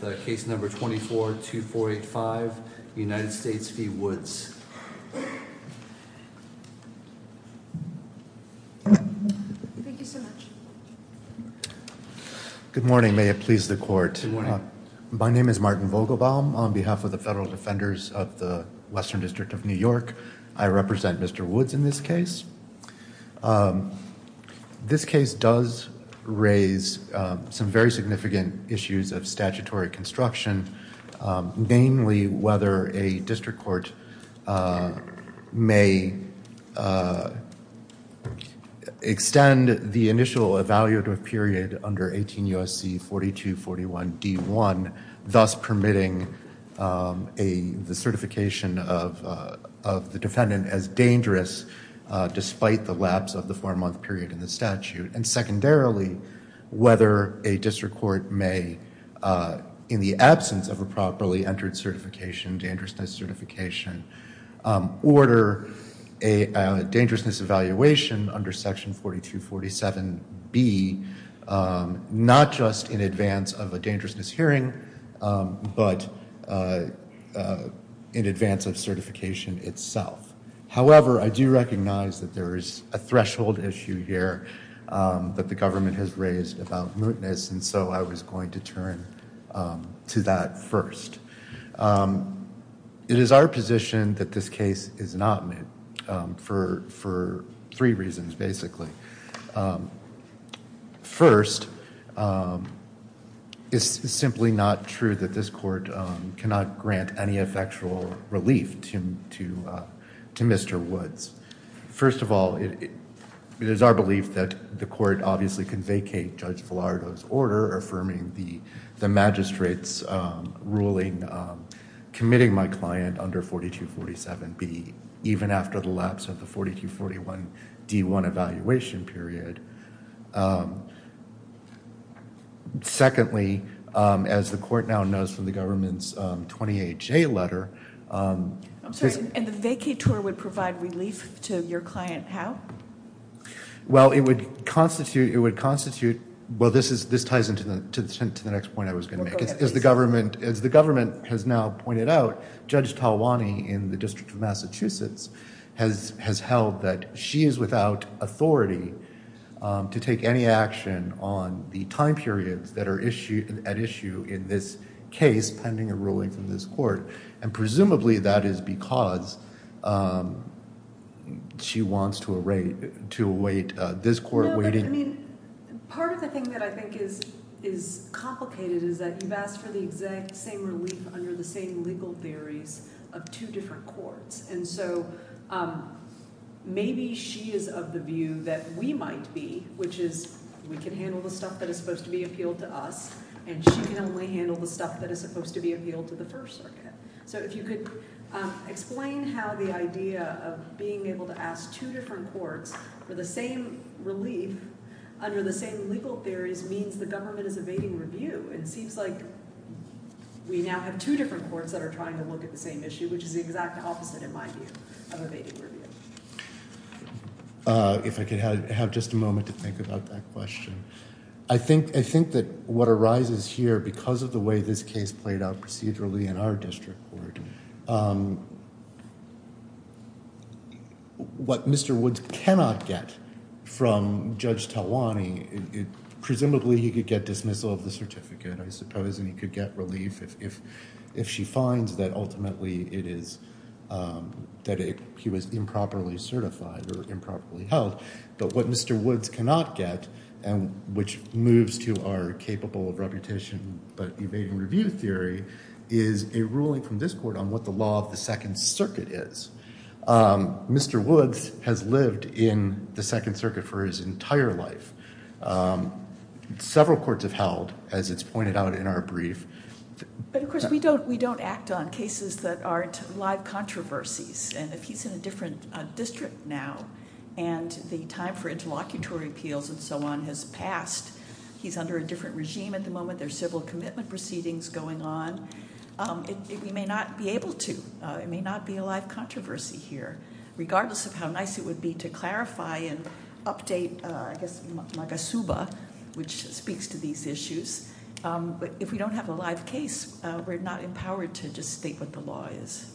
Good morning, may it please the court. My name is Martin Vogelbaum. On behalf of the Federal Defenders of the Western District of New York, I represent Mr. Woods in this case. This case does raise some very significant issues of statutory construction, mainly whether a district court may extend the initial evaluative period under 18 U.S.C. 4241 D.1, thus permitting the certification of the defendant as dangerous despite the lapse of the four-month period in the statute, and secondarily, whether a district court may, in the absence of a properly entered certification, dangerousness certification, order a dangerousness evaluation under section 4247 B, not just in advance of a dangerousness hearing, but in advance of certification itself. However, I do recognize that there is a threshold issue here that the government has raised about mootness, and so I was going to turn to that first. It is our position that this case is not moot for three reasons, basically. First, it's simply not true that this court cannot grant any effectual relief to Mr. Woods. First of all, it is our belief that the court obviously can vacate Judge Villardo's order affirming the magistrate's ruling committing my client under 4247 B, even after the lapse of the 4241 D.1 evaluation period. Secondly, as the court now knows from the government's 20HA letter... I'm sorry, and the vacateur would provide relief to your client how? Well, it would constitute... well, this ties into the next point I was going to make. As the government has now pointed out, Judge Talwani in the District of Massachusetts has held that she is without authority to take any action on the time periods that are at issue in this case pending a ruling from this court, and presumably that is because she wants to await this court waiting... No, but I mean, part of the thing that I think is complicated is that you've asked for the exact same relief under the same legal theories of two different courts, and so maybe she is of the view that we might be, which is we can handle the stuff that is supposed to be appealed to us, and she can only handle the stuff that is supposed to be appealed to the First Circuit. So, if you could explain how the idea of being able to ask two different courts for the same relief under the same legal theories means the government is evading review. It seems like we now have two different courts that are trying to look at the same issue, which is the exact opposite, in my view, of evading review. If I could have just a moment to think about that question. I think that what arises here because of the way this case played out procedurally in our district court, what Mr. Woods cannot get from Judge Talwani, presumably he could get dismissal of the certificate, I suppose, and he could get relief if she finds that ultimately it is... that he was improperly certified or improperly held, but what Mr. Woods cannot get and which moves to our capable of reputation but evading review theory is a ruling from this court on what the law of the Second Circuit is. Mr. Woods has lived in the Second Circuit for his entire life. Several courts have held, as it's pointed out in our brief... But, of course, we don't act on cases that aren't live controversies, and if he's in a different district now and the time for interlocutory appeals and so on has passed, he's under a different regime at the moment. There are civil commitment proceedings going on. We may not be able to. It may not be a live controversy here, regardless of how nice it would be to clarify and update, I guess, Magasuba, which speaks to these issues. But if we don't have a live case, we're not empowered to just state what the law is.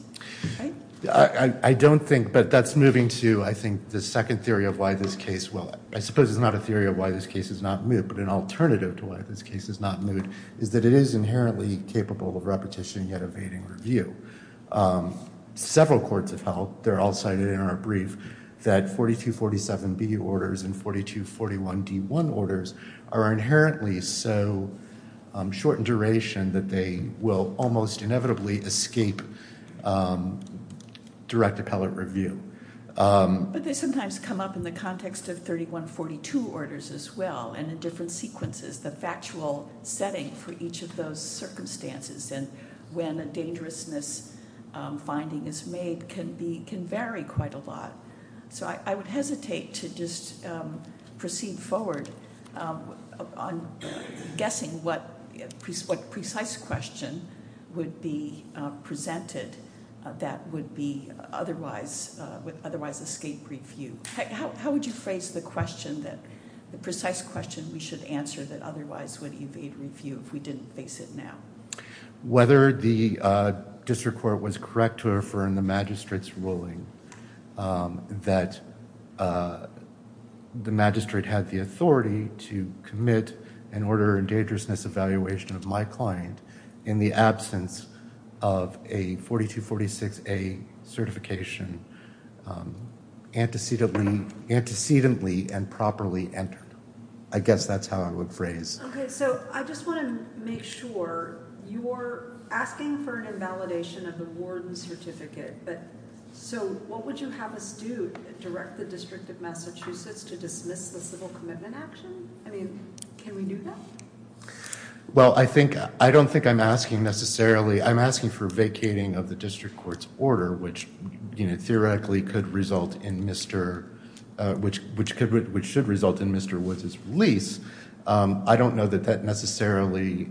I don't think... but that's moving to, I think, the second theory of why this case... Well, I suppose it's not a theory of why this case is not moot, but an alternative to why this case is not moot is that it is inherently capable of repetition yet evading review. Several courts have held, they're all cited in our brief, that 4247B orders and 4241D1 orders are inherently so short in duration that they will almost inevitably escape direct appellate review. But they sometimes come up in the context of 3142 orders as well and in different sequences, the factual setting for each of those circumstances and when a dangerousness finding is made can vary quite a lot. So I would hesitate to just proceed forward on guessing what precise question would be presented that would otherwise escape review. How would you phrase the question, the precise question we should answer that otherwise would evade review if we didn't face it now? Whether the district court was correct to affirm the magistrate's ruling that the magistrate had the authority to commit an order of dangerousness evaluation of my client in the absence of a 4246A certification antecedently and properly entered. I guess that's how I would phrase it. Okay, so I just want to make sure. You're asking for an invalidation of the warden's certificate. So what would you have us do? Direct the District of Massachusetts to dismiss the civil commitment action? I mean, can we do that? Well, I don't think I'm asking necessarily. I'm asking for vacating of the district court's order which theoretically could result in Mr. which should result in Mr. Woods' release. I don't know that that necessarily,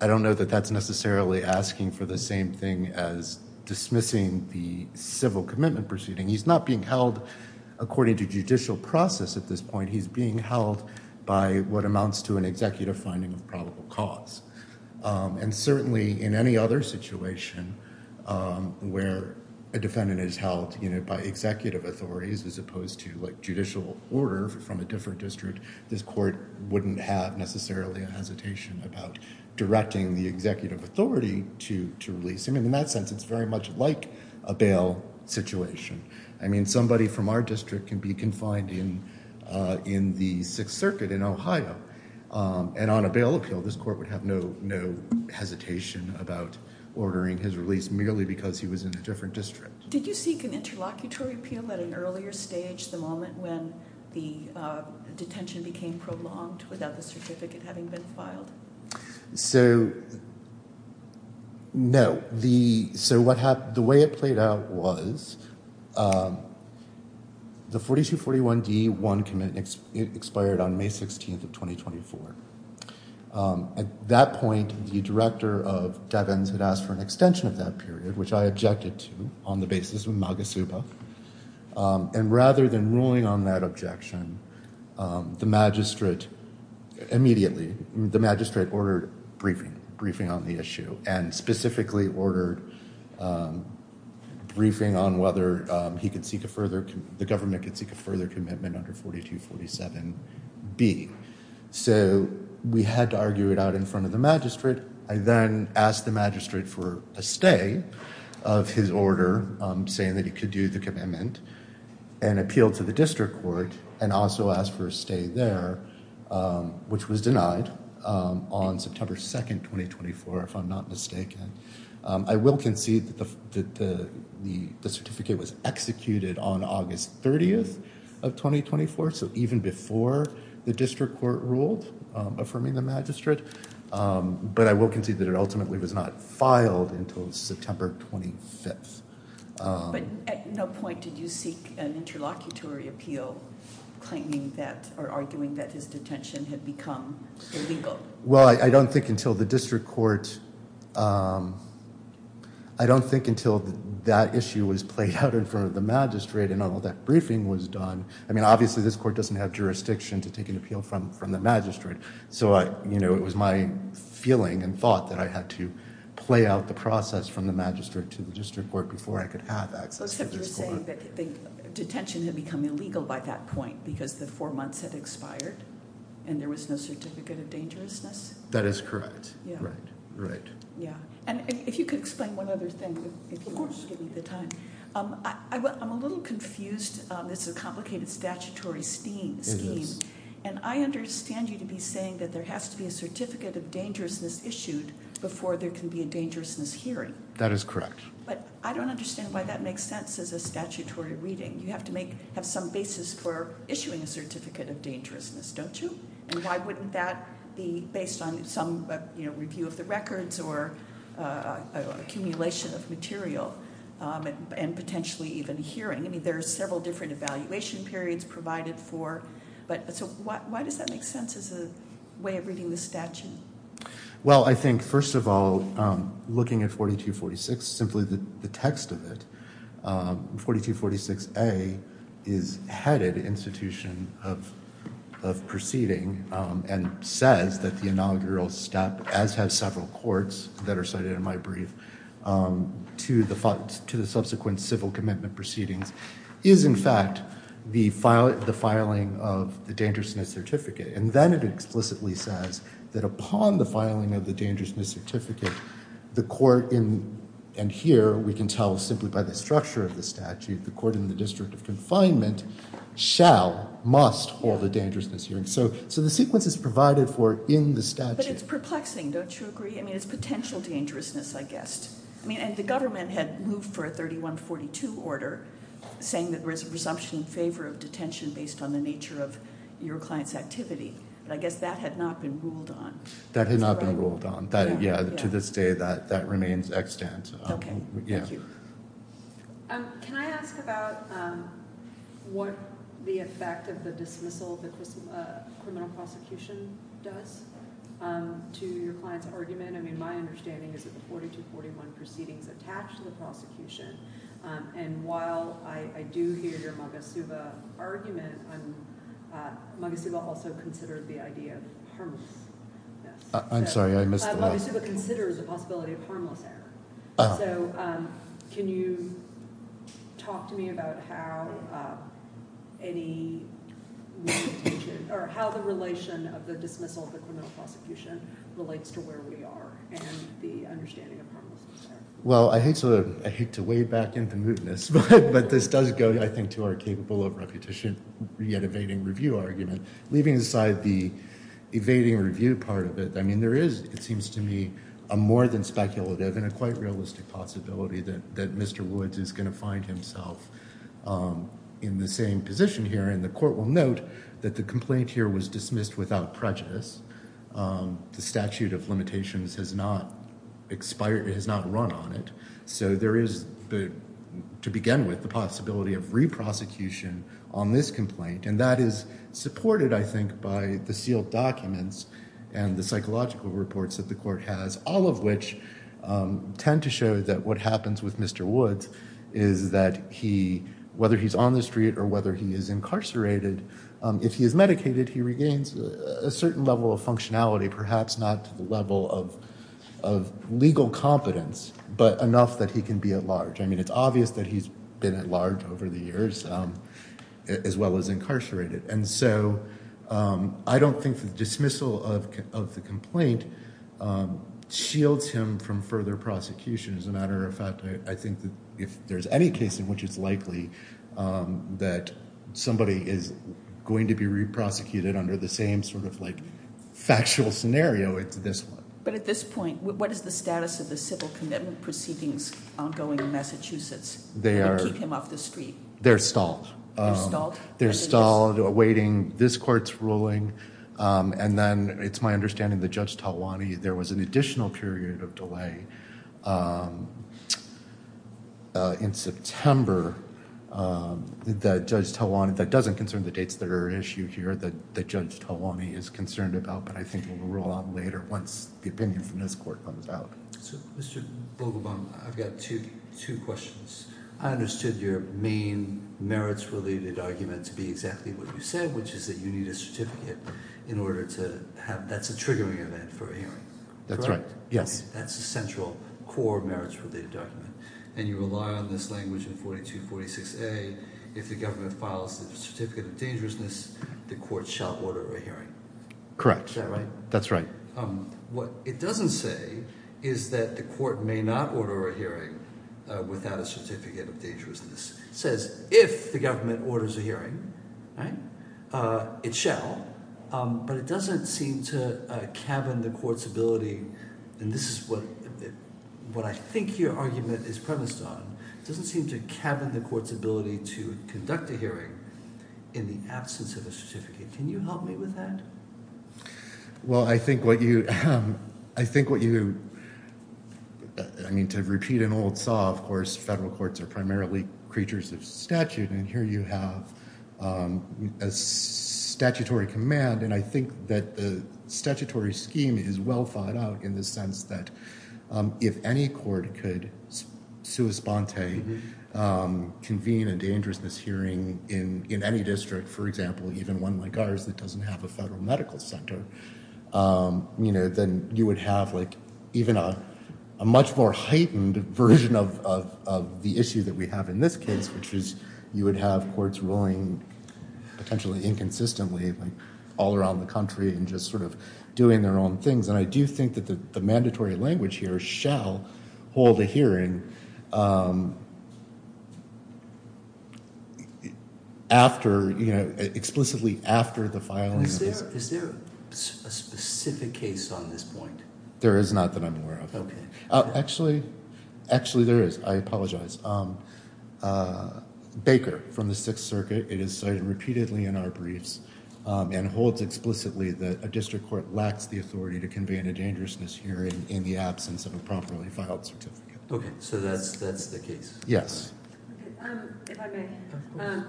I don't know that that's necessarily asking for the same thing as dismissing the civil commitment proceeding. He's not being held according to judicial process at this point. He's being held by what amounts to an executive finding of probable cause. And certainly in any other situation where a defendant is held, you know, by executive authorities as opposed to judicial order from a different district, this court wouldn't have necessarily a hesitation about directing the executive authority to release him. In that sense, it's very much like a bail situation. I mean, somebody from our district can be confined in the Sixth Circuit in Ohio. And on a bail appeal, this court would have no hesitation about ordering his release merely because he was in a different district. Did you seek an interlocutory appeal at an earlier stage, the moment when the detention became prolonged without the certificate having been filed? So, no. So what happened, the way it played out was the 4241D1 commitment expired on May 16th of 2024. At that point, the director of Devins had asked for an extension of that period, which I objected to on the basis of MAGA-SUPA. And rather than ruling on that objection, the magistrate immediately, the magistrate ordered briefing, briefing on the issue, and specifically ordered briefing on whether he could seek a further, the government could seek a further commitment under 4247B. So we had to argue it out in front of the magistrate. I then asked the magistrate for a stay of his order, saying that he could do the commitment, and appealed to the district court and also asked for a stay there, which was denied on September 2nd, 2024, if I'm not mistaken. I will concede that the certificate was executed on August 30th of 2024. So even before the district court ruled, affirming the magistrate. But I will concede that it ultimately was not filed until September 25th. But at no point did you seek an interlocutory appeal claiming that, or arguing that his detention had become illegal? Well, I don't think until the district court, I don't think until that issue was played out in front of the magistrate and all that briefing was done. I mean, obviously this court doesn't have jurisdiction to take an appeal from the magistrate. So it was my feeling and thought that I had to play out the process from the magistrate to the district court before I could have access to this court. So except you're saying that detention had become illegal by that point because the four months had expired and there was no certificate of dangerousness? That is correct. Right. Right. And if you could explain one other thing, if you want to give me the time. I'm a little confused. This is a complicated statutory scheme. And I understand you to be saying that there has to be a certificate of dangerousness issued before there can be a dangerousness hearing. That is correct. But I don't understand why that makes sense as a statutory reading. You have to have some basis for issuing a certificate of dangerousness, don't you? And why wouldn't that be based on some review of the records or accumulation of material and potentially even hearing? I mean, there are several different evaluation periods provided for. So why does that make sense as a way of reading the statute? Well, I think, first of all, looking at 4246, simply the text of it, 4246A is headed institution of proceeding and says that the inaugural step, as have several courts that are cited in my brief, to the subsequent civil commitment proceedings, is in fact the filing of the dangerousness certificate. And then it explicitly says that upon the filing of the dangerousness certificate, the court in, and here we can tell simply by the structure of the statute, the court in the district of confinement shall, must hold a dangerousness hearing. So the sequence is provided for in the statute. But it's perplexing, don't you agree? I mean, it's potential dangerousness, I guess. I mean, and the government had moved for a 3142 order saying that there is a presumption in favor of detention based on the nature of your client's activity. But I guess that had not been ruled on. That had not been ruled on. Yeah, to this day that remains extant. Okay, thank you. Can I ask about what the effect of the dismissal of the criminal prosecution does to your client's argument? I mean, my understanding is that the 4241 proceeding is attached to the prosecution. And while I do hear your Magasuba argument, Magasuba also considered the idea of harmlessness. I'm sorry, I missed the last one. Magasuba considers the possibility of harmless error. So can you talk to me about how the relation of the dismissal of the criminal prosecution relates to where we are and the understanding of harmlessness there? Well, I hate to wade back into mootness, but this does go, I think, to our capable of repetition yet evading review argument. Leaving aside the evading review part of it, I mean, there is, it seems to me, a more than speculative and a quite realistic possibility that Mr. Woods is going to find himself in the same position here. And the court will note that the complaint here was dismissed without prejudice. The statute of limitations has not run on it. So there is, to begin with, the possibility of re-prosecution on this complaint. And that is supported, I think, by the sealed documents and the psychological reports that the court has, all of which tend to show that what happens with Mr. Woods is that he, whether he's on the street or whether he is incarcerated, if he is medicated, he regains a certain level of functionality, perhaps not to the level of legal competence, but enough that he can be at large. I mean, it's obvious that he's been at large over the years, as well as incarcerated. And so I don't think the dismissal of the complaint shields him from further prosecution. As a matter of fact, I think that if there's any case in which it's likely that somebody is going to be re-prosecuted under the same sort of like factual scenario, it's this one. But at this point, what is the status of the civil commitment proceedings ongoing in Massachusetts to keep him off the street? They're stalled. They're stalled? They're stalled, awaiting this court's ruling. And then it's my understanding that Judge Talwani, there was an additional period of delay in September that Judge Talwani, that doesn't concern the dates that are at issue here that Judge Talwani is concerned about, but I think it will roll out later once the opinion from this court comes out. So, Mr. Vogelbaum, I've got two questions. I understood your main merits-related argument to be exactly what you said, which is that you need a certificate in order to have – that's a triggering event for a hearing. That's right. Yes. That's the central core merits-related document. And you rely on this language in 4246A, if the government files a certificate of dangerousness, the court shall order a hearing. Correct. That's right. What it doesn't say is that the court may not order a hearing without a certificate of dangerousness. It says if the government orders a hearing, it shall. But it doesn't seem to cabin the court's ability – and this is what I think your argument is premised on – it doesn't seem to cabin the court's ability to conduct a hearing in the absence of a certificate. Can you help me with that? Well, I think what you – I think what you – I mean, to repeat an old saw, of course, federal courts are primarily creatures of statute, and here you have a statutory command, and I think that the statutory scheme is well thought out in the sense that if any court could sui sponte, convene a dangerousness hearing in any district, for example, even one like ours that doesn't have a federal medical center, then you would have even a much more heightened version of the issue that we have in this case, which is you would have courts ruling potentially inconsistently all around the country and just sort of doing their own things. And I do think that the mandatory language here shall hold a hearing after – explicitly after the filing. Is there a specific case on this point? There is not that I'm aware of. Okay. Actually, there is. I apologize. Baker from the Sixth Circuit. It is cited repeatedly in our briefs and holds explicitly that a district court lacks the authority to convene a dangerousness hearing in the absence of a properly filed certificate. Okay, so that's the case. Yes. If I may. Of course.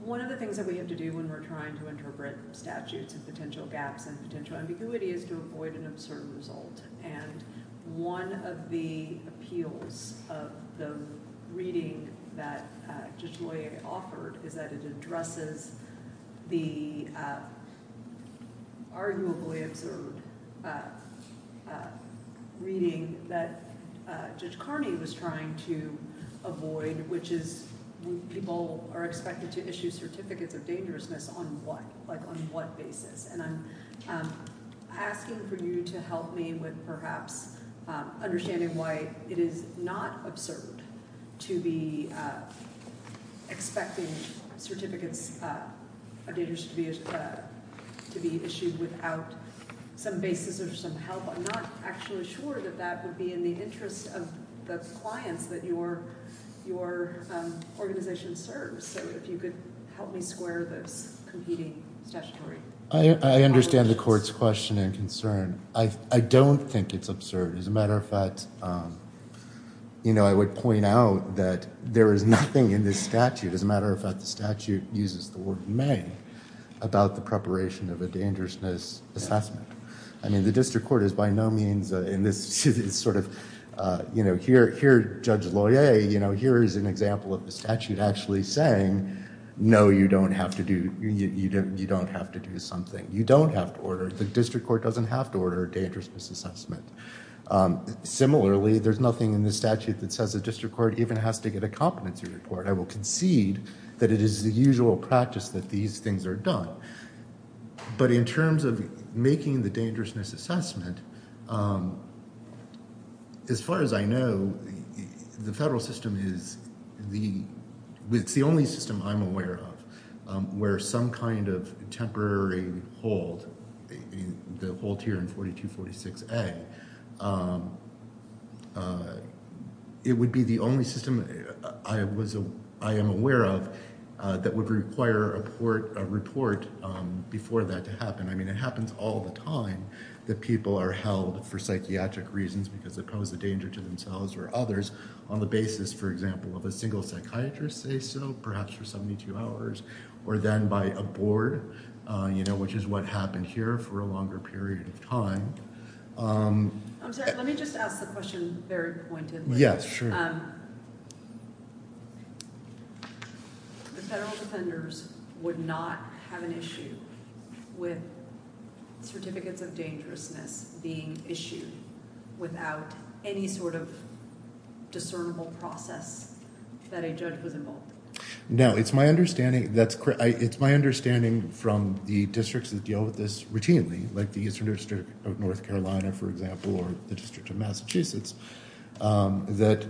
One of the things that we have to do when we're trying to interpret statutes and potential gaps and potential ambiguity is to avoid an absurd result, and one of the appeals of the reading that Judge Loyer offered is that it addresses the arguably absurd reading that Judge Carney was trying to avoid, which is people are expected to issue certificates of dangerousness on what? Like on what basis? And I'm asking for you to help me with perhaps understanding why it is not absurd to be expecting certificates of dangerousness to be issued without some basis or some help. I'm not actually sure that that would be in the interest of the clients that your organization serves. So if you could help me square this competing statutory. I understand the court's question and concern. I don't think it's absurd. As a matter of fact, you know, I would point out that there is nothing in this statute, as a matter of fact, the statute uses the word may, about the preparation of a dangerousness assessment. I mean, the district court is by no means in this sort of, you know, here Judge Loyer, you know, here is an example of the statute actually saying, no, you don't have to do, you don't have to do something. You don't have to order, the district court doesn't have to order a dangerousness assessment. Similarly, there's nothing in the statute that says the district court even has to get a competency report. I will concede that it is the usual practice that these things are done. But in terms of making the dangerousness assessment, as far as I know, the federal system is the, it's the only system I'm aware of where some kind of temporary hold, the hold here in 4246A. It would be the only system I was, I am aware of that would require a report before that to happen. I mean, it happens all the time that people are held for psychiatric reasons because they pose a danger to themselves or others on the basis, for example, of a single psychiatrist, say so, perhaps for 72 hours, or then by a board, you know, which is what happened here for a longer period of time. I'm sorry, let me just ask the question very pointedly. Yes, sure. The federal defenders would not have an issue with certificates of dangerousness being issued without any sort of discernible process that a judge was involved in. No, it's my understanding, that's correct. It's my understanding from the districts that deal with this routinely, like the Eastern District of North Carolina, for example, or the District of Massachusetts, that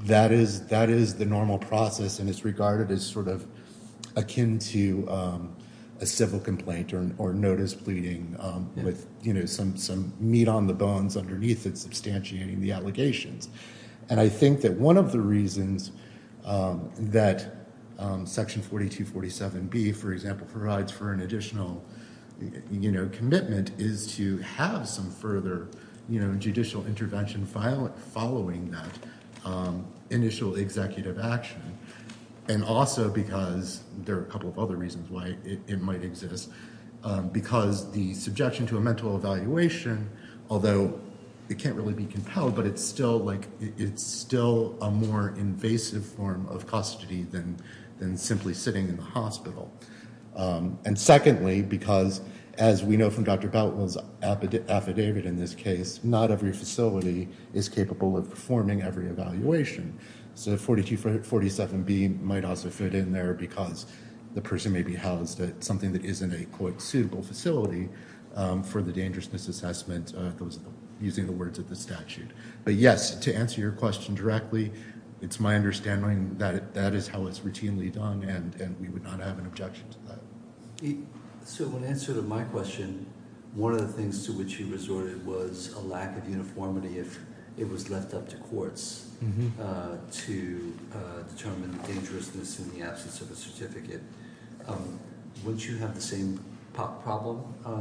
that is the normal process and it's regarded as sort of akin to a civil complaint or notice pleading with, you know, some meat on the bones underneath it, substantiating the allegations. And I think that one of the reasons that Section 4247B, for example, provides for an additional, you know, commitment is to have some further, you know, judicial intervention following that initial executive action. And also because there are a couple of other reasons why it might exist, because the subjection to a mental evaluation, although it can't really be compelled, but it's still like, it's still a more invasive form of custody than simply sitting in the hospital. And secondly, because as we know from Dr. Belton's affidavit in this case, not every facility is capable of performing every evaluation. So 4247B might also fit in there because the person may be housed at something that isn't a co-executable facility for the dangerousness assessment, using the words of the statute. But yes, to answer your question directly, it's my understanding that that is how it's routinely done and we would not have an objection to that. So in answer to my question, one of the things to which he resorted was a lack of uniformity if it was left up to courts to determine dangerousness in the absence of a certificate. Wouldn't you have the same problem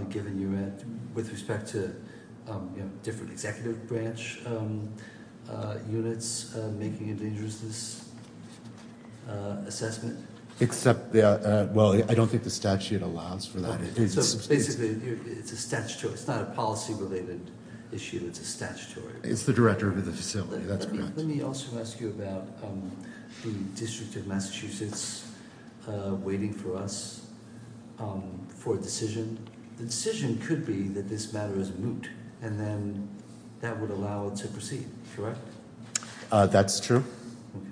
given you had, with respect to, you know, different executive branch units making a dangerousness assessment? Except, well, I don't think the statute allows for that. So basically, it's a statutory, it's not a policy related issue, it's a statutory. It's the director of the facility, that's correct. Let me also ask you about the District of Massachusetts waiting for us for a decision. The decision could be that this matter is moot and then that would allow it to proceed, correct? That's true. Okay.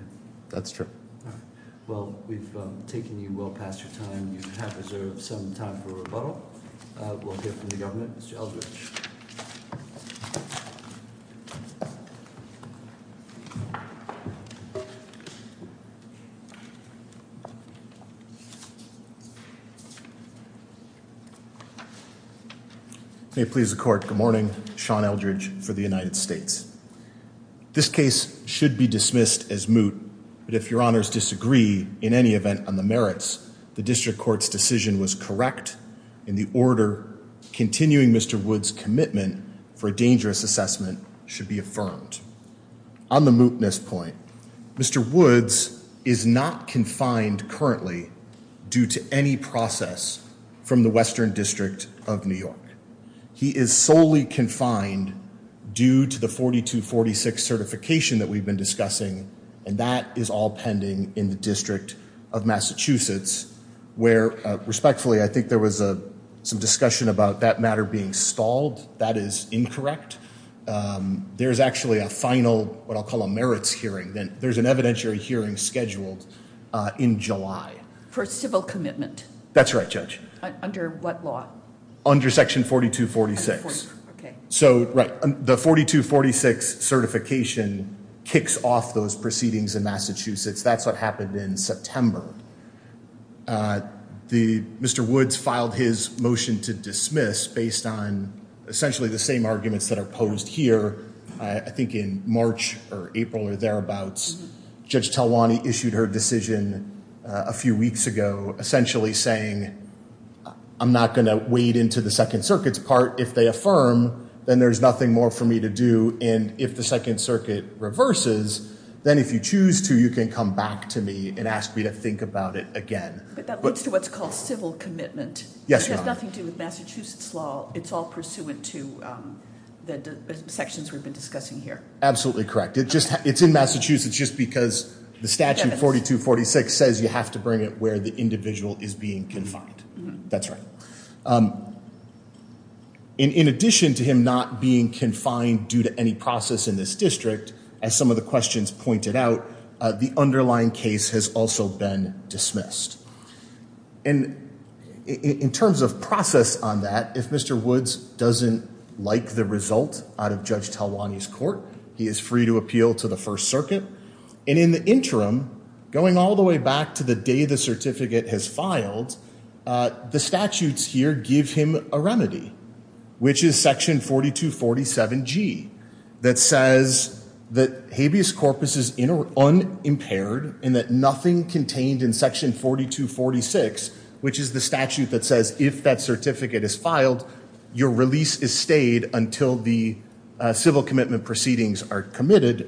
That's true. All right. Well, we've taken you well past your time. You have reserved some time for rebuttal. We'll hear from the government. Mr. Eldridge. May it please the court. Good morning. Sean Eldridge for the United States. This case should be dismissed as moot. But if your honors disagree in any event on the merits, the district court's decision was correct. In the order, continuing Mr. Woods' commitment for a dangerous assessment should be affirmed. On the mootness point, Mr. Woods is not confined currently due to any process from the Western District of New York. He is solely confined due to the 4246 certification that we've been discussing. And that is all pending in the District of Massachusetts where, respectfully, I think there was some discussion about that matter being stalled. That is incorrect. There's actually a final, what I'll call a merits hearing. There's an evidentiary hearing scheduled in July. For civil commitment. That's right, Judge. Under what law? Under section 4246. Okay. So, right. The 4246 certification kicks off those proceedings in Massachusetts. That's what happened in September. Mr. Woods filed his motion to dismiss based on essentially the same arguments that are posed here, I think in March or April or thereabouts. Judge Talwani issued her decision a few weeks ago essentially saying, I'm not going to wade into the Second Circuit's part. If they affirm, then there's nothing more for me to do. And if the Second Circuit reverses, then if you choose to, you can come back to me and ask me to think about it again. But that leads to what's called civil commitment. Yes, Your Honor. It has nothing to do with Massachusetts law. It's all pursuant to the sections we've been discussing here. Absolutely correct. It's in Massachusetts just because the statute 4246 says you have to bring it where the individual is being confined. That's right. In addition to him not being confined due to any process in this district, as some of the questions pointed out, the underlying case has also been dismissed. And in terms of process on that, if Mr. Woods doesn't like the result out of Judge Talwani's court, he is free to appeal to the First Circuit. And in the interim, going all the way back to the day the certificate has filed, the statutes here give him a remedy, which is section 4247G that says that habeas corpus is unimpaired and that nothing contained in section 4246, which is the statute that says if that certificate is filed, your release is stayed until the civil commitment proceedings are completed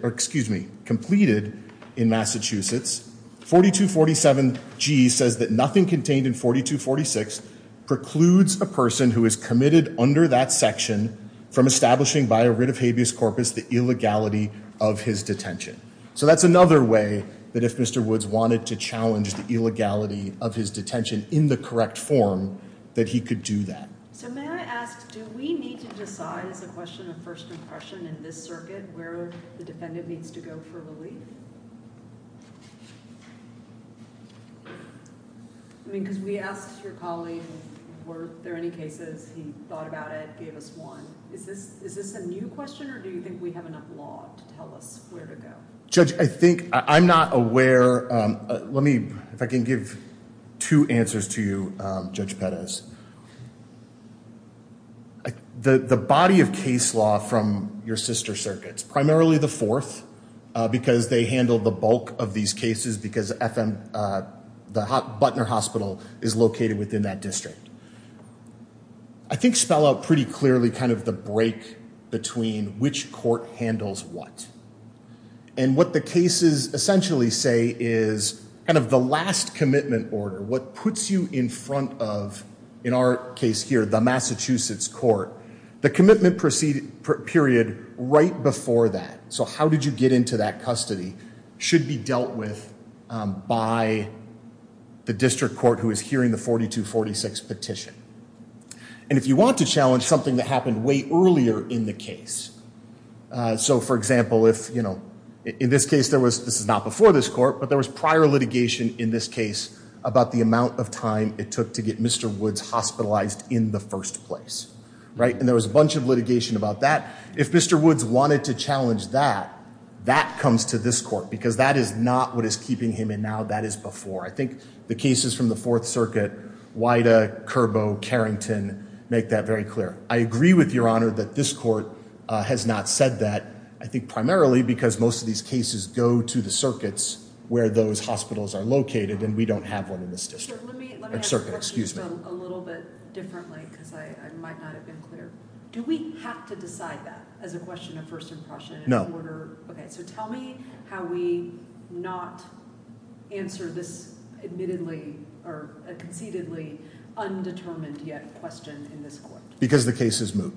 in Massachusetts. 4247G says that nothing contained in 4246 precludes a person who is committed under that section from establishing by a writ of habeas corpus the illegality of his detention. So that's another way that if Mr. Woods wanted to challenge the illegality of his detention in the correct form, that he could do that. So may I ask, do we need to decide as a question of first impression in this circuit where the defendant needs to go for relief? I mean, because we asked your colleague, were there any cases he thought about it, gave us one. Is this is this a new question or do you think we have enough law to tell us where to go? Judge, I think I'm not aware. Let me, if I can give two answers to you, Judge Pettis. The body of case law from your sister circuits, primarily the fourth, because they handled the bulk of these cases, because the Butner Hospital is located within that district. I think spell out pretty clearly kind of the break between which court handles what. And what the cases essentially say is kind of the last commitment order. What puts you in front of, in our case here, the Massachusetts court, the commitment proceeded period right before that. So how did you get into that custody should be dealt with by the district court who is hearing the 42-46 petition. And if you want to challenge something that happened way earlier in the case. So, for example, if, you know, in this case, there was this is not before this court, but there was prior litigation in this case about the amount of time it took to get Mr. Woods hospitalized in the first place. Right. And there was a bunch of litigation about that. If Mr. Woods wanted to challenge that, that comes to this court, because that is not what is keeping him. And now that is before. I think the cases from the Fourth Circuit, Wida, Curbo, Carrington make that very clear. I agree with your honor that this court has not said that, I think primarily because most of these cases go to the circuits where those hospitals are located and we don't have one in this district. Let me ask a question a little bit differently because I might not have been clear. Do we have to decide that as a question of first impression? No. So tell me how we not answer this admittedly or conceitedly undetermined yet question in this court. Because the case is moot,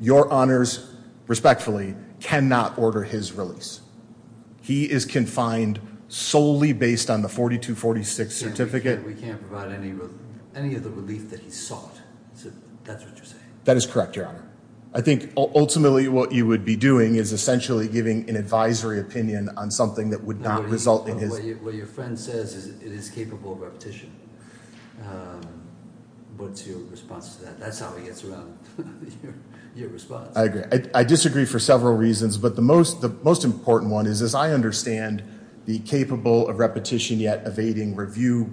your honors respectfully cannot order his release. He is confined solely based on the 4246 certificate. We can't provide any any of the relief that he sought. So that's what you're saying. That is correct, your honor. I think ultimately what you would be doing is essentially giving an advisory opinion on something that would not result in his. What your friend says is it is capable of repetition. What's your response to that? That's how he gets around your response. I disagree for several reasons. But the most the most important one is, as I understand, the capable of repetition yet evading review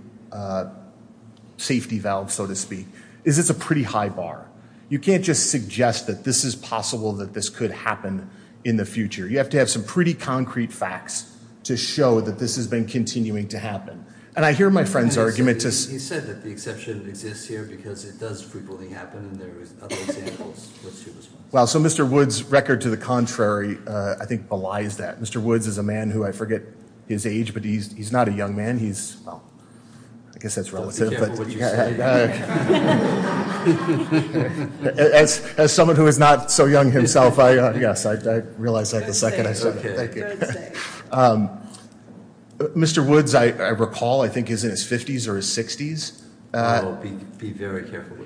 safety valve, so to speak, is it's a pretty high bar. You can't just suggest that this is possible that this could happen in the future. You have to have some pretty concrete facts to show that this has been continuing to happen. And I hear my friend's argument. He said that the exception exists here because it does frequently happen. Well, so Mr. Woods record to the contrary, I think, belies that Mr. Woods is a man who I forget his age, but he's not a young man. He's I guess that's relative. But as as someone who is not so young himself, I guess I realize that the second I said, Mr. Woods, I recall, I think, is in his 50s or 60s. I will be very careful.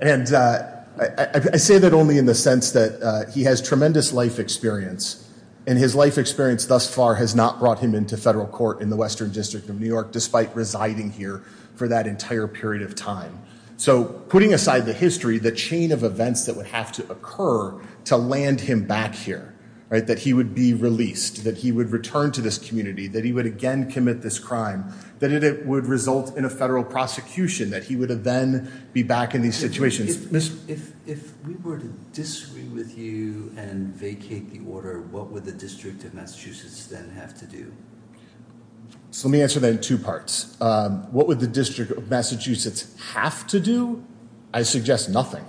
And I say that only in the sense that he has tremendous life experience and his life experience thus far has not brought him into federal court in the Western District of New York, despite residing here for that entire period of time. So putting aside the history, the chain of events that would have to occur to land him back here, that he would be released, that he would return to this community, that he would again commit this crime, that it would result in a federal prosecution, that he would have then be back in these situations. If if if we were to disagree with you and vacate the order, what would the District of Massachusetts then have to do? So let me answer that in two parts. What would the District of Massachusetts have to do? I suggest nothing.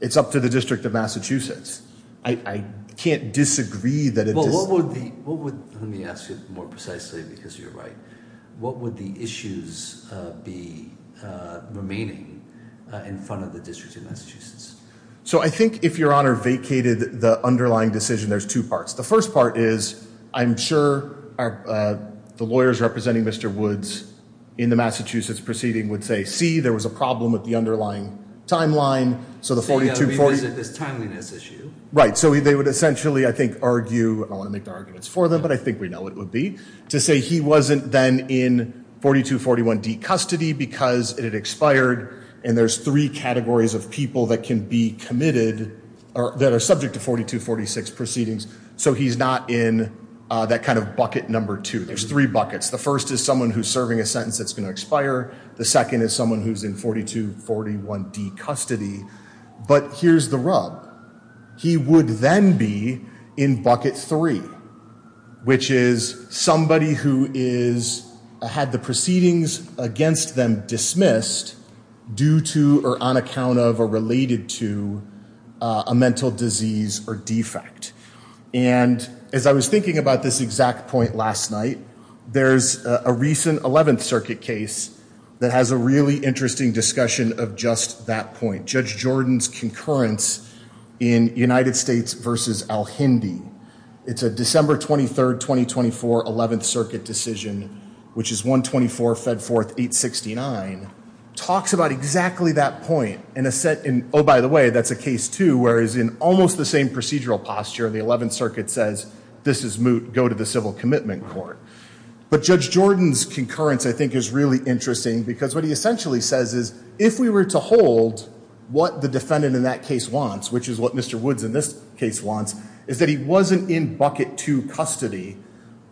It's up to the District of Massachusetts. I can't disagree that. Well, what would the what would let me ask you more precisely because you're right. What would the issues be remaining in front of the District of Massachusetts? So I think if your honor vacated the underlying decision, there's two parts. The first part is I'm sure the lawyers representing Mr. Woods in the Massachusetts proceeding would say, see, there was a problem with the underlying timeline. So the 4240 this timeliness issue. Right. So they would essentially, I think, argue. I want to make the arguments for them, but I think we know it would be to say he wasn't then in 4241 D custody because it expired. And there's three categories of people that can be committed or that are subject to 4246 proceedings. So he's not in that kind of bucket. Number two, there's three buckets. The first is someone who's serving a sentence that's going to expire. The second is someone who's in 4241 D custody. But here's the rub. He would then be in bucket three, which is somebody who is had the proceedings against them dismissed due to or on account of or related to a mental disease or defect. And as I was thinking about this exact point last night, there's a recent 11th Circuit case that has a really interesting discussion of just that point. Judge Jordan's concurrence in United States versus Al Hindi. It's a December 23rd, 2024, 11th Circuit decision, which is 124 fed forth 869. Talks about exactly that point in a set in. Oh, by the way, that's a case to where is in almost the same procedural posture. The 11th Circuit says this is moot. Go to the civil commitment court. But Judge Jordan's concurrence, I think, is really interesting because what he essentially says is if we were to hold what the defendant in that case wants, which is what Mr. Woods in this case wants, is that he wasn't in bucket to custody.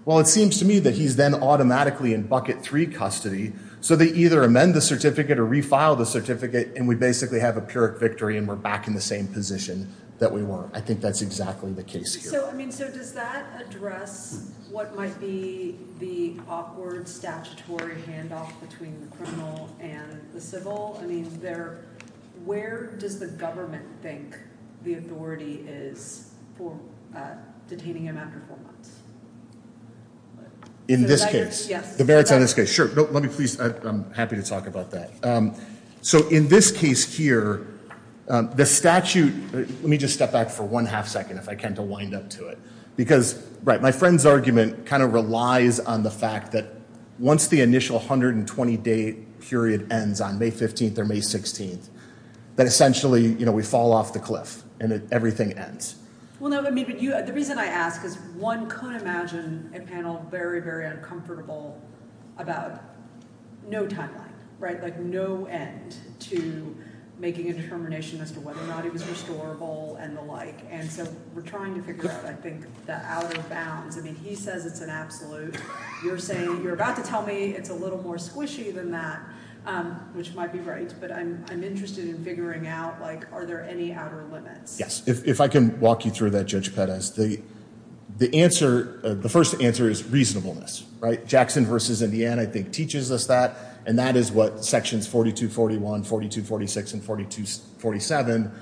Well, it seems to me that he's then automatically in bucket three custody. So they either amend the certificate or refile the certificate. And we basically have a pyrrhic victory and we're back in the same position that we were. I think that's exactly the case. So I mean, so does that address what might be the awkward statutory handoff between the criminal and the civil? I mean, they're where does the government think the authority is for detaining him after four months? In this case, yes, the merits of this case. Sure. Let me please. I'm happy to talk about that. So in this case here, the statute, let me just step back for one half second, if I can, to wind up to it. Because my friend's argument kind of relies on the fact that once the initial 120-day period ends on May 15th or May 16th, that essentially we fall off the cliff and everything ends. Well, no, I mean, the reason I ask is one could imagine a panel very, very uncomfortable about no timeline, right? Like no end to making a determination as to whether or not it was restorable and the like. And so we're trying to figure out, I think, the outer bounds. I mean, he says it's an absolute. You're saying you're about to tell me it's a little more squishy than that, which might be right. But I'm interested in figuring out, like, are there any outer limits? Yes. If I can walk you through that, Judge Pettis. The answer, the first answer is reasonableness, right? Jackson v. Indiana, I think, teaches us that. And that is what sections 4241, 4246, and 4247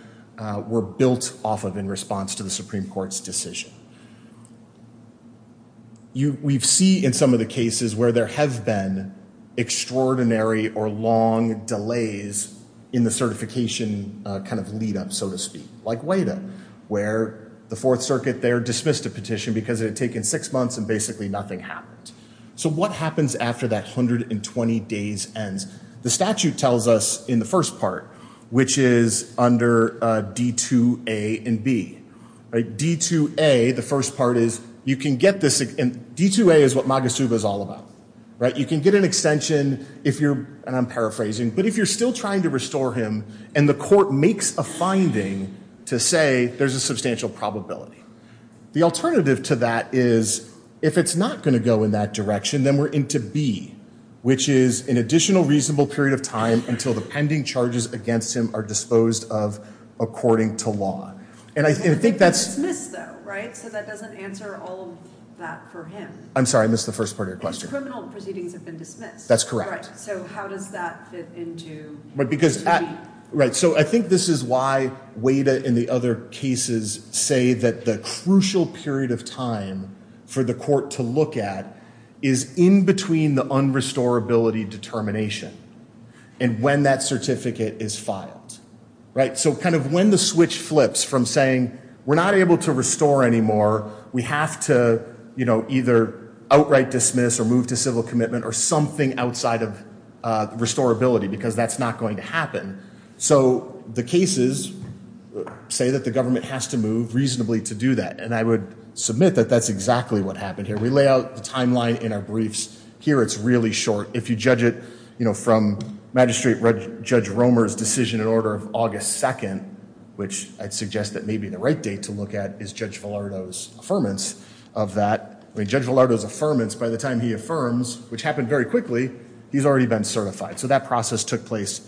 were built off of in response to the Supreme Court's decision. We see in some of the cases where there have been extraordinary or long delays in the certification kind of lead up, so to speak, like WADA, where the Fourth Circuit there dismissed a petition because it had taken six months and basically nothing happened. So what happens after that 120 days ends? The statute tells us in the first part, which is under D2A and B. D2A, the first part is you can get this. And D2A is what MAGA-SUBA is all about. You can get an extension if you're, and I'm paraphrasing, but if you're still trying to restore him and the court makes a finding to say there's a substantial probability. The alternative to that is if it's not going to go in that direction, then we're into B, which is an additional reasonable period of time until the pending charges against him are disposed of according to law. And I think that's- It's been dismissed though, right? So that doesn't answer all of that for him. I'm sorry, I missed the first part of your question. Because criminal proceedings have been dismissed. That's correct. So how does that fit into B? Right, so I think this is why WADA and the other cases say that the crucial period of time for the court to look at is in between the unrestorability determination and when that certificate is filed. So kind of when the switch flips from saying we're not able to restore anymore, we have to either outright dismiss or move to civil commitment or something outside of restorability because that's not going to happen. So the cases say that the government has to move reasonably to do that. And I would submit that that's exactly what happened here. We lay out the timeline in our briefs. Here it's really short. If you judge it, you know, from Magistrate Judge Romer's decision in order of August 2nd, which I'd suggest that maybe the right date to look at is Judge Villardo's affirmance of that. I mean, Judge Villardo's affirmance by the time he affirms, which happened very quickly, he's already been certified. So that process took place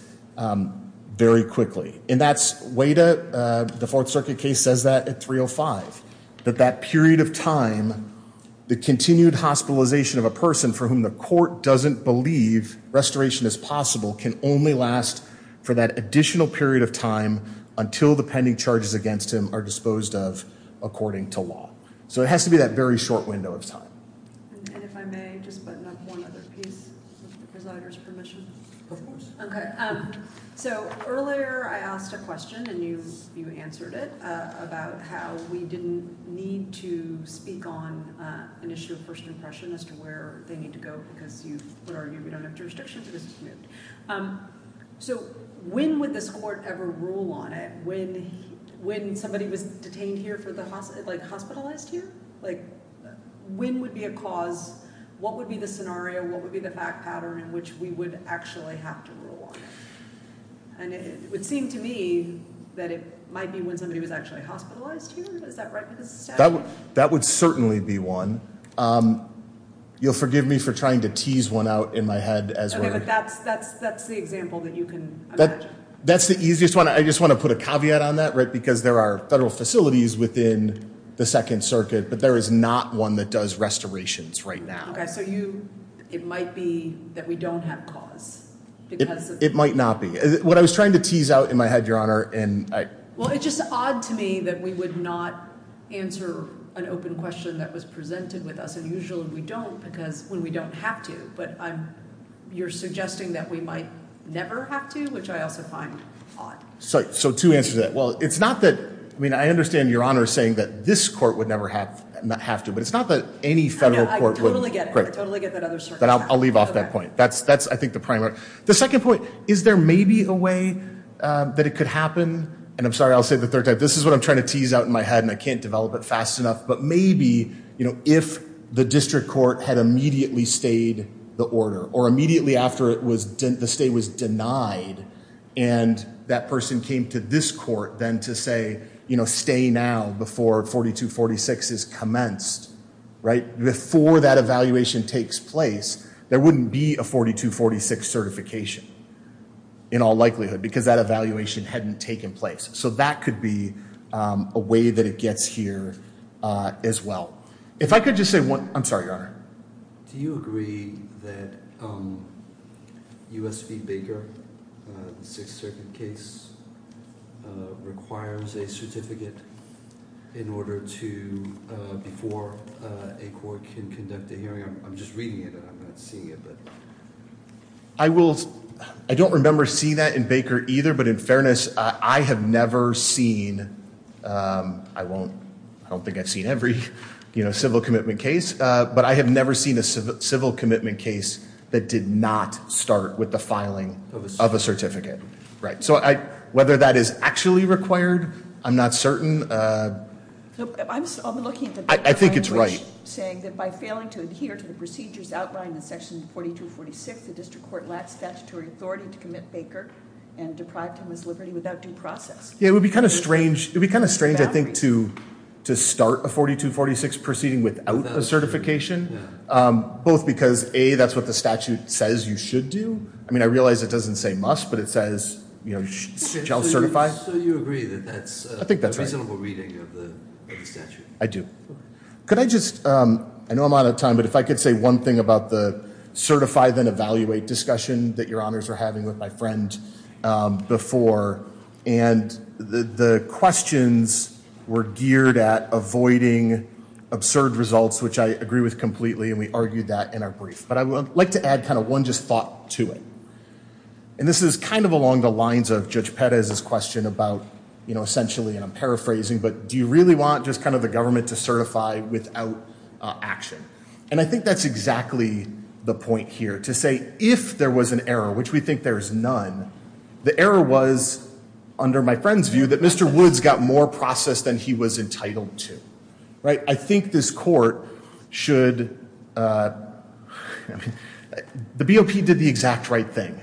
very quickly. And that's WADA, the Fourth Circuit case says that at 305, that that period of time, the continued hospitalization of a person for whom the court doesn't believe restoration is possible can only last for that additional period of time until the pending charges against him are disposed of according to law. So it has to be that very short window of time. And if I may, just button up one other piece, if the presider's permission. Of course. Okay. So earlier I asked a question and you answered it about how we didn't need to speak on an issue of first impression as to where they need to go because you would argue we don't have jurisdictions. So when would this court ever rule on it? When when somebody was detained here for the hospital, like hospitalized here? Like, when would be a cause? What would be the scenario? What would be the fact pattern in which we would actually have to rule? And it would seem to me that it might be when somebody was actually hospitalized here. Is that right? That would certainly be one. You'll forgive me for trying to tease one out in my head as well. But that's that's that's the example that you can. That's the easiest one. I just want to put a caveat on that, right? Because there are federal facilities within the Second Circuit, but there is not one that does restorations right now. So you it might be that we don't have cause. It might not be what I was trying to tease out in my head, Your Honor. Well, it's just odd to me that we would not answer an open question that was presented with us. And usually we don't because we don't have to. But you're suggesting that we might never have to, which I also find odd. So two answers to that. Well, it's not that I mean, I understand Your Honor saying that this court would never have to. But it's not that any federal court would. I totally get it. I totally get that other circumstance. I'll leave off that point. That's that's I think the primary. The second point, is there maybe a way that it could happen? And I'm sorry, I'll say the third time. This is what I'm trying to tease out in my head, and I can't develop it fast enough. But maybe, you know, if the district court had immediately stayed the order or immediately after it was the state was denied. And that person came to this court then to say, you know, stay now before 42-46 is commenced. Before that evaluation takes place, there wouldn't be a 42-46 certification in all likelihood because that evaluation hadn't taken place. So that could be a way that it gets here as well. If I could just say one. I'm sorry, Your Honor. Do you agree that U.S. v. Baker, the Sixth Circuit case, requires a certificate in order to, before a court can conduct a hearing? I'm just reading it and I'm not seeing it, but. I will. I don't remember seeing that in Baker either. But in fairness, I have never seen. I won't. I don't think I've seen every civil commitment case. But I have never seen a civil commitment case that did not start with the filing of a certificate. So whether that is actually required, I'm not certain. I think it's right. By failing to adhere to the procedures outlined in section 42-46, the district court lacks statutory authority to commit Baker and deprive him of his liberty without due process. It would be kind of strange, I think, to start a 42-46 proceeding without a certification. Both because, A, that's what the statute says you should do. I mean, I realize it doesn't say must, but it says shall certify. So you agree that that's a reasonable reading of the statute? I do. Could I just, I know I'm out of time, but if I could say one thing about the certify then evaluate discussion that your honors are having with my friend before. And the questions were geared at avoiding absurd results, which I agree with completely, and we argued that in our brief. But I would like to add kind of one just thought to it. And this is kind of along the lines of Judge Perez's question about, you know, essentially, and I'm paraphrasing, but do you really want just kind of the government to certify without action? And I think that's exactly the point here. To say if there was an error, which we think there is none, the error was, under my friend's view, that Mr. Woods got more process than he was entitled to. Right? I think this court should, I mean, the BOP did the exact right thing.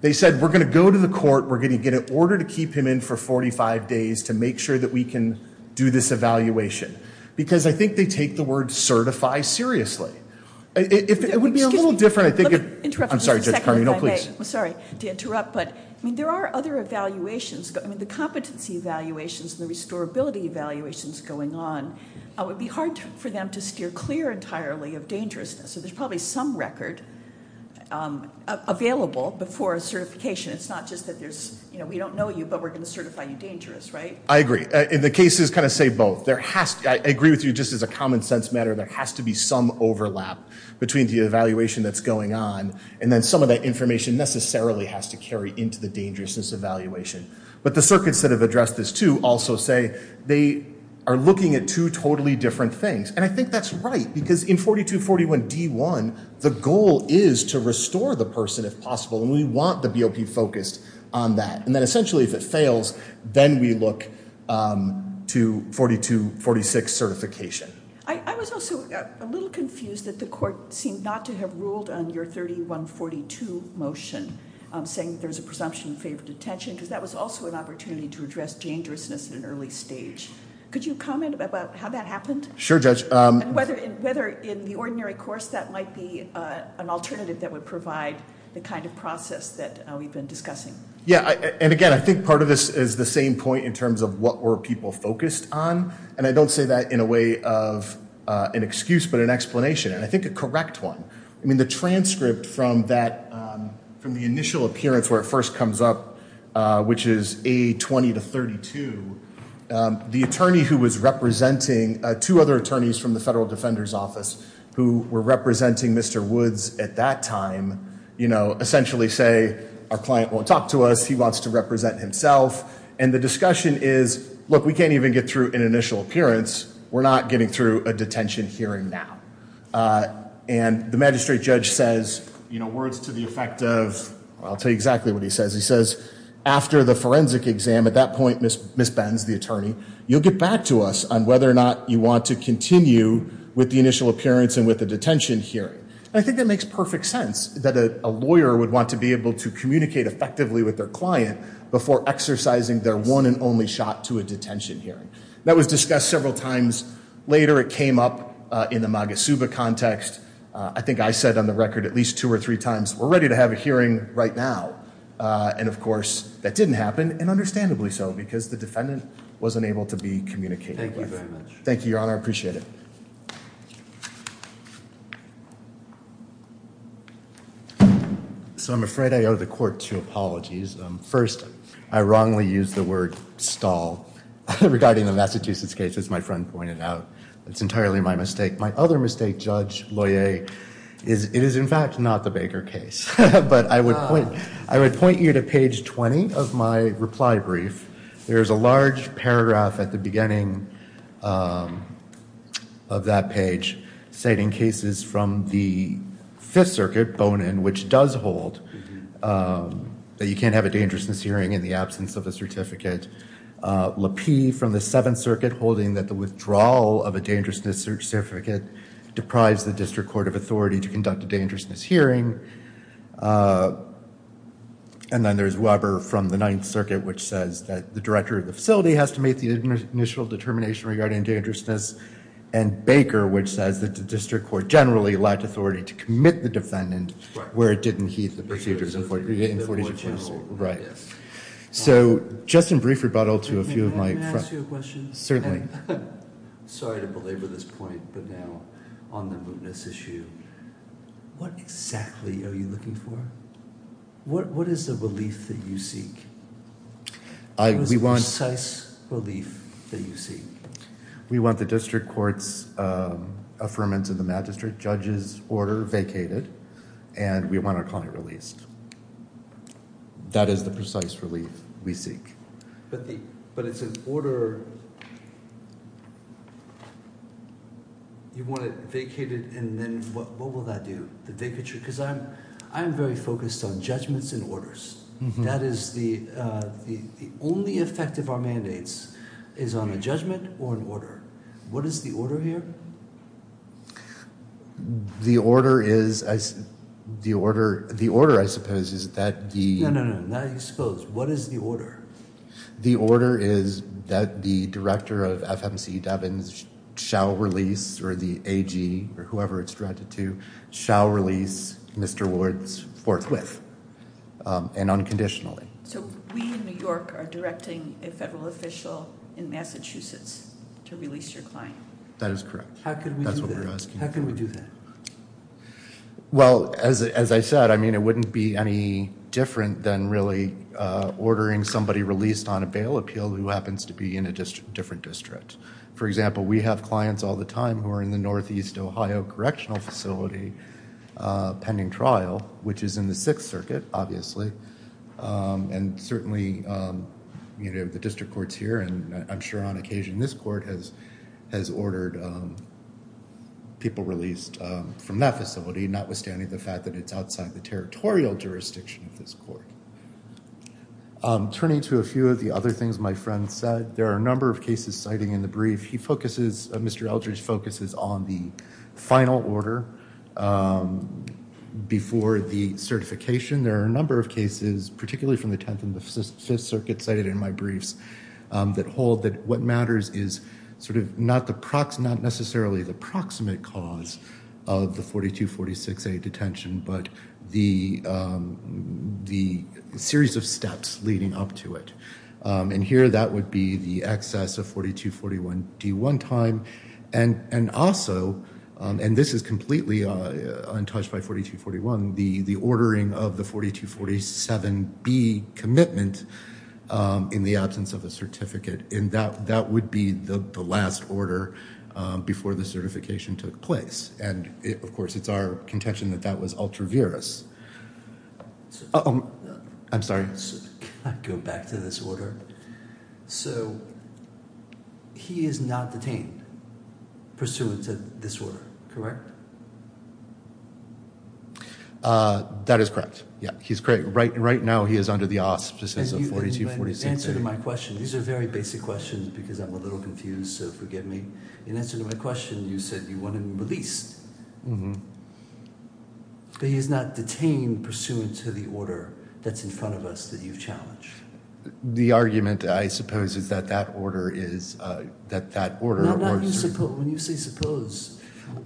They said we're going to go to the court, we're going to get an order to keep him in for 45 days to make sure that we can do this evaluation. Because I think they take the word certify seriously. It would be a little different, I think. Excuse me. Let me interrupt for just a second if I may. I'm sorry, Judge Carney. No, please. I'm sorry to interrupt, but, I mean, there are other evaluations. I mean, the competency evaluations and the restorability evaluations going on, it would be hard for them to steer clear entirely of dangerousness. So there's probably some record available before a certification. It's not just that there's, you know, we don't know you, but we're going to certify you dangerous. Right? I agree. And the cases kind of say both. I agree with you just as a common sense matter. There has to be some overlap between the evaluation that's going on and then some of that information necessarily has to carry into the dangerousness evaluation. But the circuits that have addressed this, too, also say they are looking at two totally different things. And I think that's right. Because in 4241D1, the goal is to restore the person if possible. And we want the BOP focused on that. And then, essentially, if it fails, then we look to 4246 certification. I was also a little confused that the court seemed not to have ruled on your 3142 motion, saying there's a presumption of favored detention, because that was also an opportunity to address dangerousness at an early stage. Could you comment about how that happened? Sure, Judge. And whether in the ordinary course that might be an alternative that would provide the kind of process that we've been discussing. Yeah, and again, I think part of this is the same point in terms of what were people focused on. And I don't say that in a way of an excuse, but an explanation, and I think a correct one. I mean, the transcript from the initial appearance where it first comes up, which is A20 to 32, the attorney who was representing two other attorneys from the Federal Defender's Office who were representing Mr. Woods at that time, essentially say, our client won't talk to us. He wants to represent himself. And the discussion is, look, we can't even get through an initial appearance. We're not getting through a detention hearing now. And the magistrate judge says words to the effect of, well, I'll tell you exactly what he says. He says, after the forensic exam, at that point, Ms. Benz, the attorney, you'll get back to us on whether or not you want to continue with the initial appearance and with the detention hearing. And I think that makes perfect sense, that a lawyer would want to be able to communicate effectively with their client before exercising their one and only shot to a detention hearing. That was discussed several times later. It came up in the MAGA-SUBA context. I think I said on the record at least two or three times, we're ready to have a hearing right now. And, of course, that didn't happen, and understandably so, because the defendant wasn't able to be communicated with. Thank you very much. Thank you, Your Honor. I appreciate it. So I'm afraid I owe the court two apologies. First, I wrongly used the word stall regarding the Massachusetts case, as my friend pointed out. That's entirely my mistake. My other mistake, Judge Loyer, is it is, in fact, not the Baker case. But I would point you to page 20 of my reply brief. There is a large paragraph at the beginning of that page citing cases from the Fifth Circuit, Bonin, which does hold that you can't have a dangerousness hearing in the absence of a certificate. LaPie from the Seventh Circuit holding that the withdrawal of a dangerousness certificate deprives the district court of authority to conduct a dangerousness hearing. And then there's Weber from the Ninth Circuit, which says that the director of the facility has to make the initial determination regarding dangerousness. And Baker, which says that the district court generally lacked authority to commit the defendant where it didn't heed the procedures in Forty-Two Places. Right. So just in brief rebuttal to a few of my friends. May I ask you a question? Certainly. Sorry to belabor this point, but now on the mootness issue, what exactly are you looking for? What is the relief that you seek? What is the precise relief that you seek? We want the district court's affirmance of the magistrate judge's order vacated, and we want our client released. That is the precise relief we seek. But it's an order. You want it vacated, and then what will that do? The vacature? Because I'm very focused on judgments and orders. That is the only effect of our mandates is on a judgment or an order. What is the order here? The order, I suppose, is that the— No, no, no. Not exposed. What is the order? The order is that the director of FMC Devins shall release, or the AG or whoever it's directed to, shall release Mr. Wards forthwith and unconditionally. So we in New York are directing a federal official in Massachusetts to release your client? That is correct. How can we do that? That's what we're asking for. How can we do that? Well, as I said, I mean, it wouldn't be any different than really ordering somebody released on a bail appeal who happens to be in a different district. For example, we have clients all the time who are in the Northeast Ohio Correctional Facility pending trial, which is in the Sixth Circuit, obviously, and certainly the district court's here, and I'm sure on occasion this court has ordered people released from that facility, notwithstanding the fact that it's outside the territorial jurisdiction of this court. Turning to a few of the other things my friend said, there are a number of cases citing in the brief. He focuses—Mr. Eldridge focuses on the final order before the certification. There are a number of cases, particularly from the Tenth and the Fifth Circuit cited in my briefs, that hold that what matters is sort of not necessarily the proximate cause of the 4246A detention, but the series of steps leading up to it. And here that would be the excess of 4241D1 time, and also, and this is completely untouched by 4241, the ordering of the 4247B commitment in the absence of a certificate, and that would be the last order before the certification took place. And, of course, it's our contention that that was ultra-virus. I'm sorry. Can I go back to this order? So he is not detained pursuant to this order, correct? That is correct. Yeah, he's correct. Right now he is under the auspices of 4246A. In answer to my question, these are very basic questions because I'm a little confused, so forgive me. In answer to my question, you said you want him released. But he is not detained pursuant to the order that's in front of us that you've challenged? The argument, I suppose, is that that order is, that that order— No, not you suppose. When you say suppose,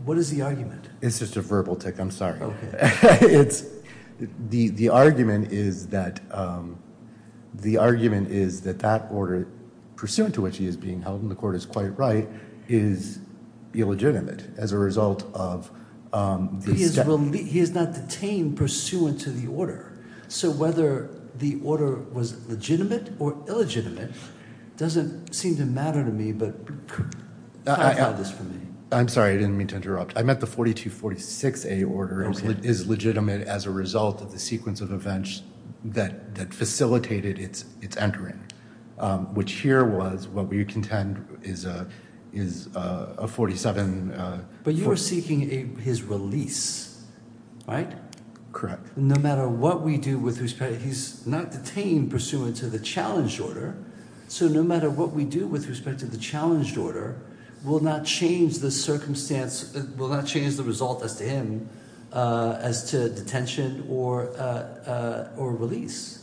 what is the argument? It's just a verbal tick. I'm sorry. It's, the argument is that, the argument is that that order, pursuant to which he is being held, and the court is quite right, is illegitimate as a result of the— He is not detained pursuant to the order. So whether the order was legitimate or illegitimate doesn't seem to matter to me, but clarify this for me. I'm sorry, I didn't mean to interrupt. I meant the 4246A order is legitimate as a result of the sequence of events that facilitated its entering, which here was what we contend is a 47— But you were seeking his release, right? Correct. No matter what we do with respect, he's not detained pursuant to the challenged order, so no matter what we do with respect to the challenged order, we'll not change the circumstance, we'll not change the result as to him, as to detention or release.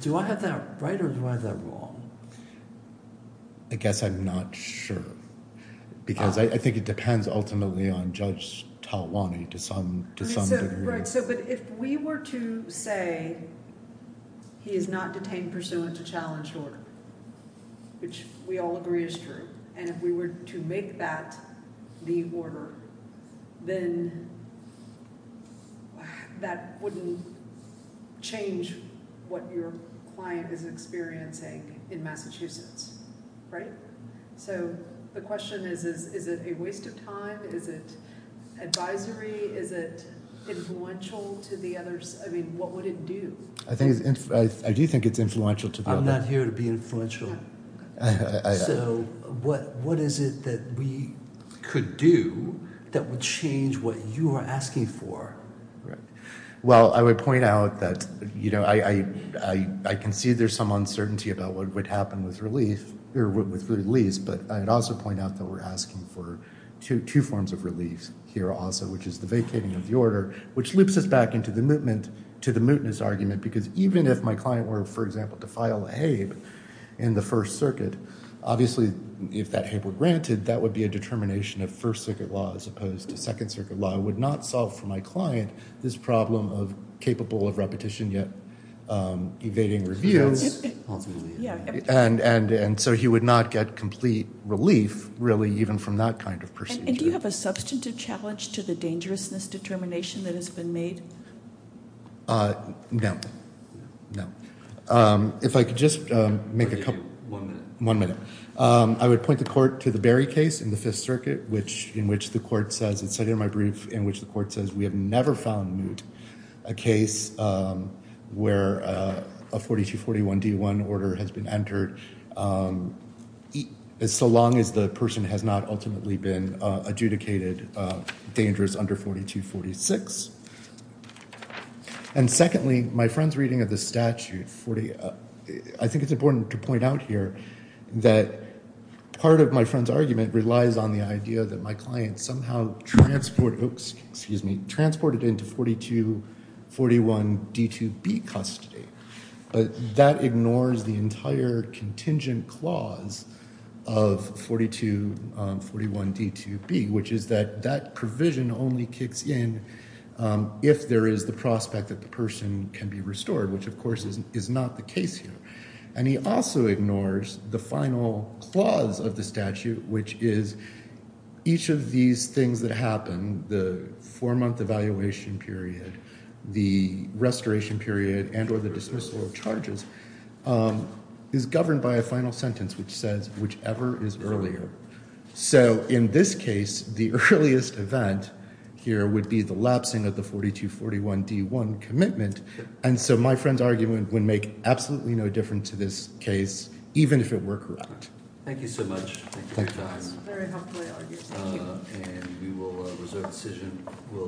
Do I have that right or do I have that wrong? I guess I'm not sure, because I think it depends ultimately on Judge Talwani to some degree. Right, but if we were to say he is not detained pursuant to challenged order, which we all agree is true, and if we were to make that the order, then that wouldn't change what your client is experiencing in Massachusetts, right? So the question is, is it a waste of time? Is it advisory? Is it influential to the others? I mean, what would it do? I do think it's influential to the others. I'm not here to be influential. So what is it that we could do that would change what you are asking for? Well, I would point out that I can see there's some uncertainty about what would happen with release, but I would also point out that we're asking for two forms of relief here also, which is the vacating of the order, which loops us back into the mootness argument, because even if my client were, for example, to file a HABE in the First Circuit, obviously if that HABE were granted, that would be a determination of First Circuit law as opposed to Second Circuit law. I would not solve for my client this problem of capable of repetition yet evading reviews, and so he would not get complete relief, really, even from that kind of procedure. And do you have a substantive challenge to the dangerousness determination that has been made? No. No. If I could just make a couple – One minute. One minute. I would point the court to the Berry case in the Fifth Circuit, in which the court says – it's cited in my brief – in which the court says we have never found moot a case where a 4241D1 order has been entered, so long as the person has not ultimately been adjudicated dangerous under 4246. And secondly, my friend's reading of the statute – I think it's important to point out here that part of my friend's argument relies on the idea that my client somehow transported – excuse me – transported into 4241D2B custody, but that ignores the entire contingent clause of 4241D2B, which is that that provision only kicks in if there is the prospect that the person can be restored, which, of course, is not the case here. And he also ignores the final clause of the statute, which is each of these things that happen – the four-month evaluation period, the restoration period, and or the dismissal of charges – is governed by a final sentence, which says, whichever is earlier. So in this case, the earliest event here would be the lapsing of the 4241D1 commitment. And so my friend's argument would make absolutely no difference to this case, even if it were correct. Thank you so much. Thank you. That was a very helpful argument. Thank you.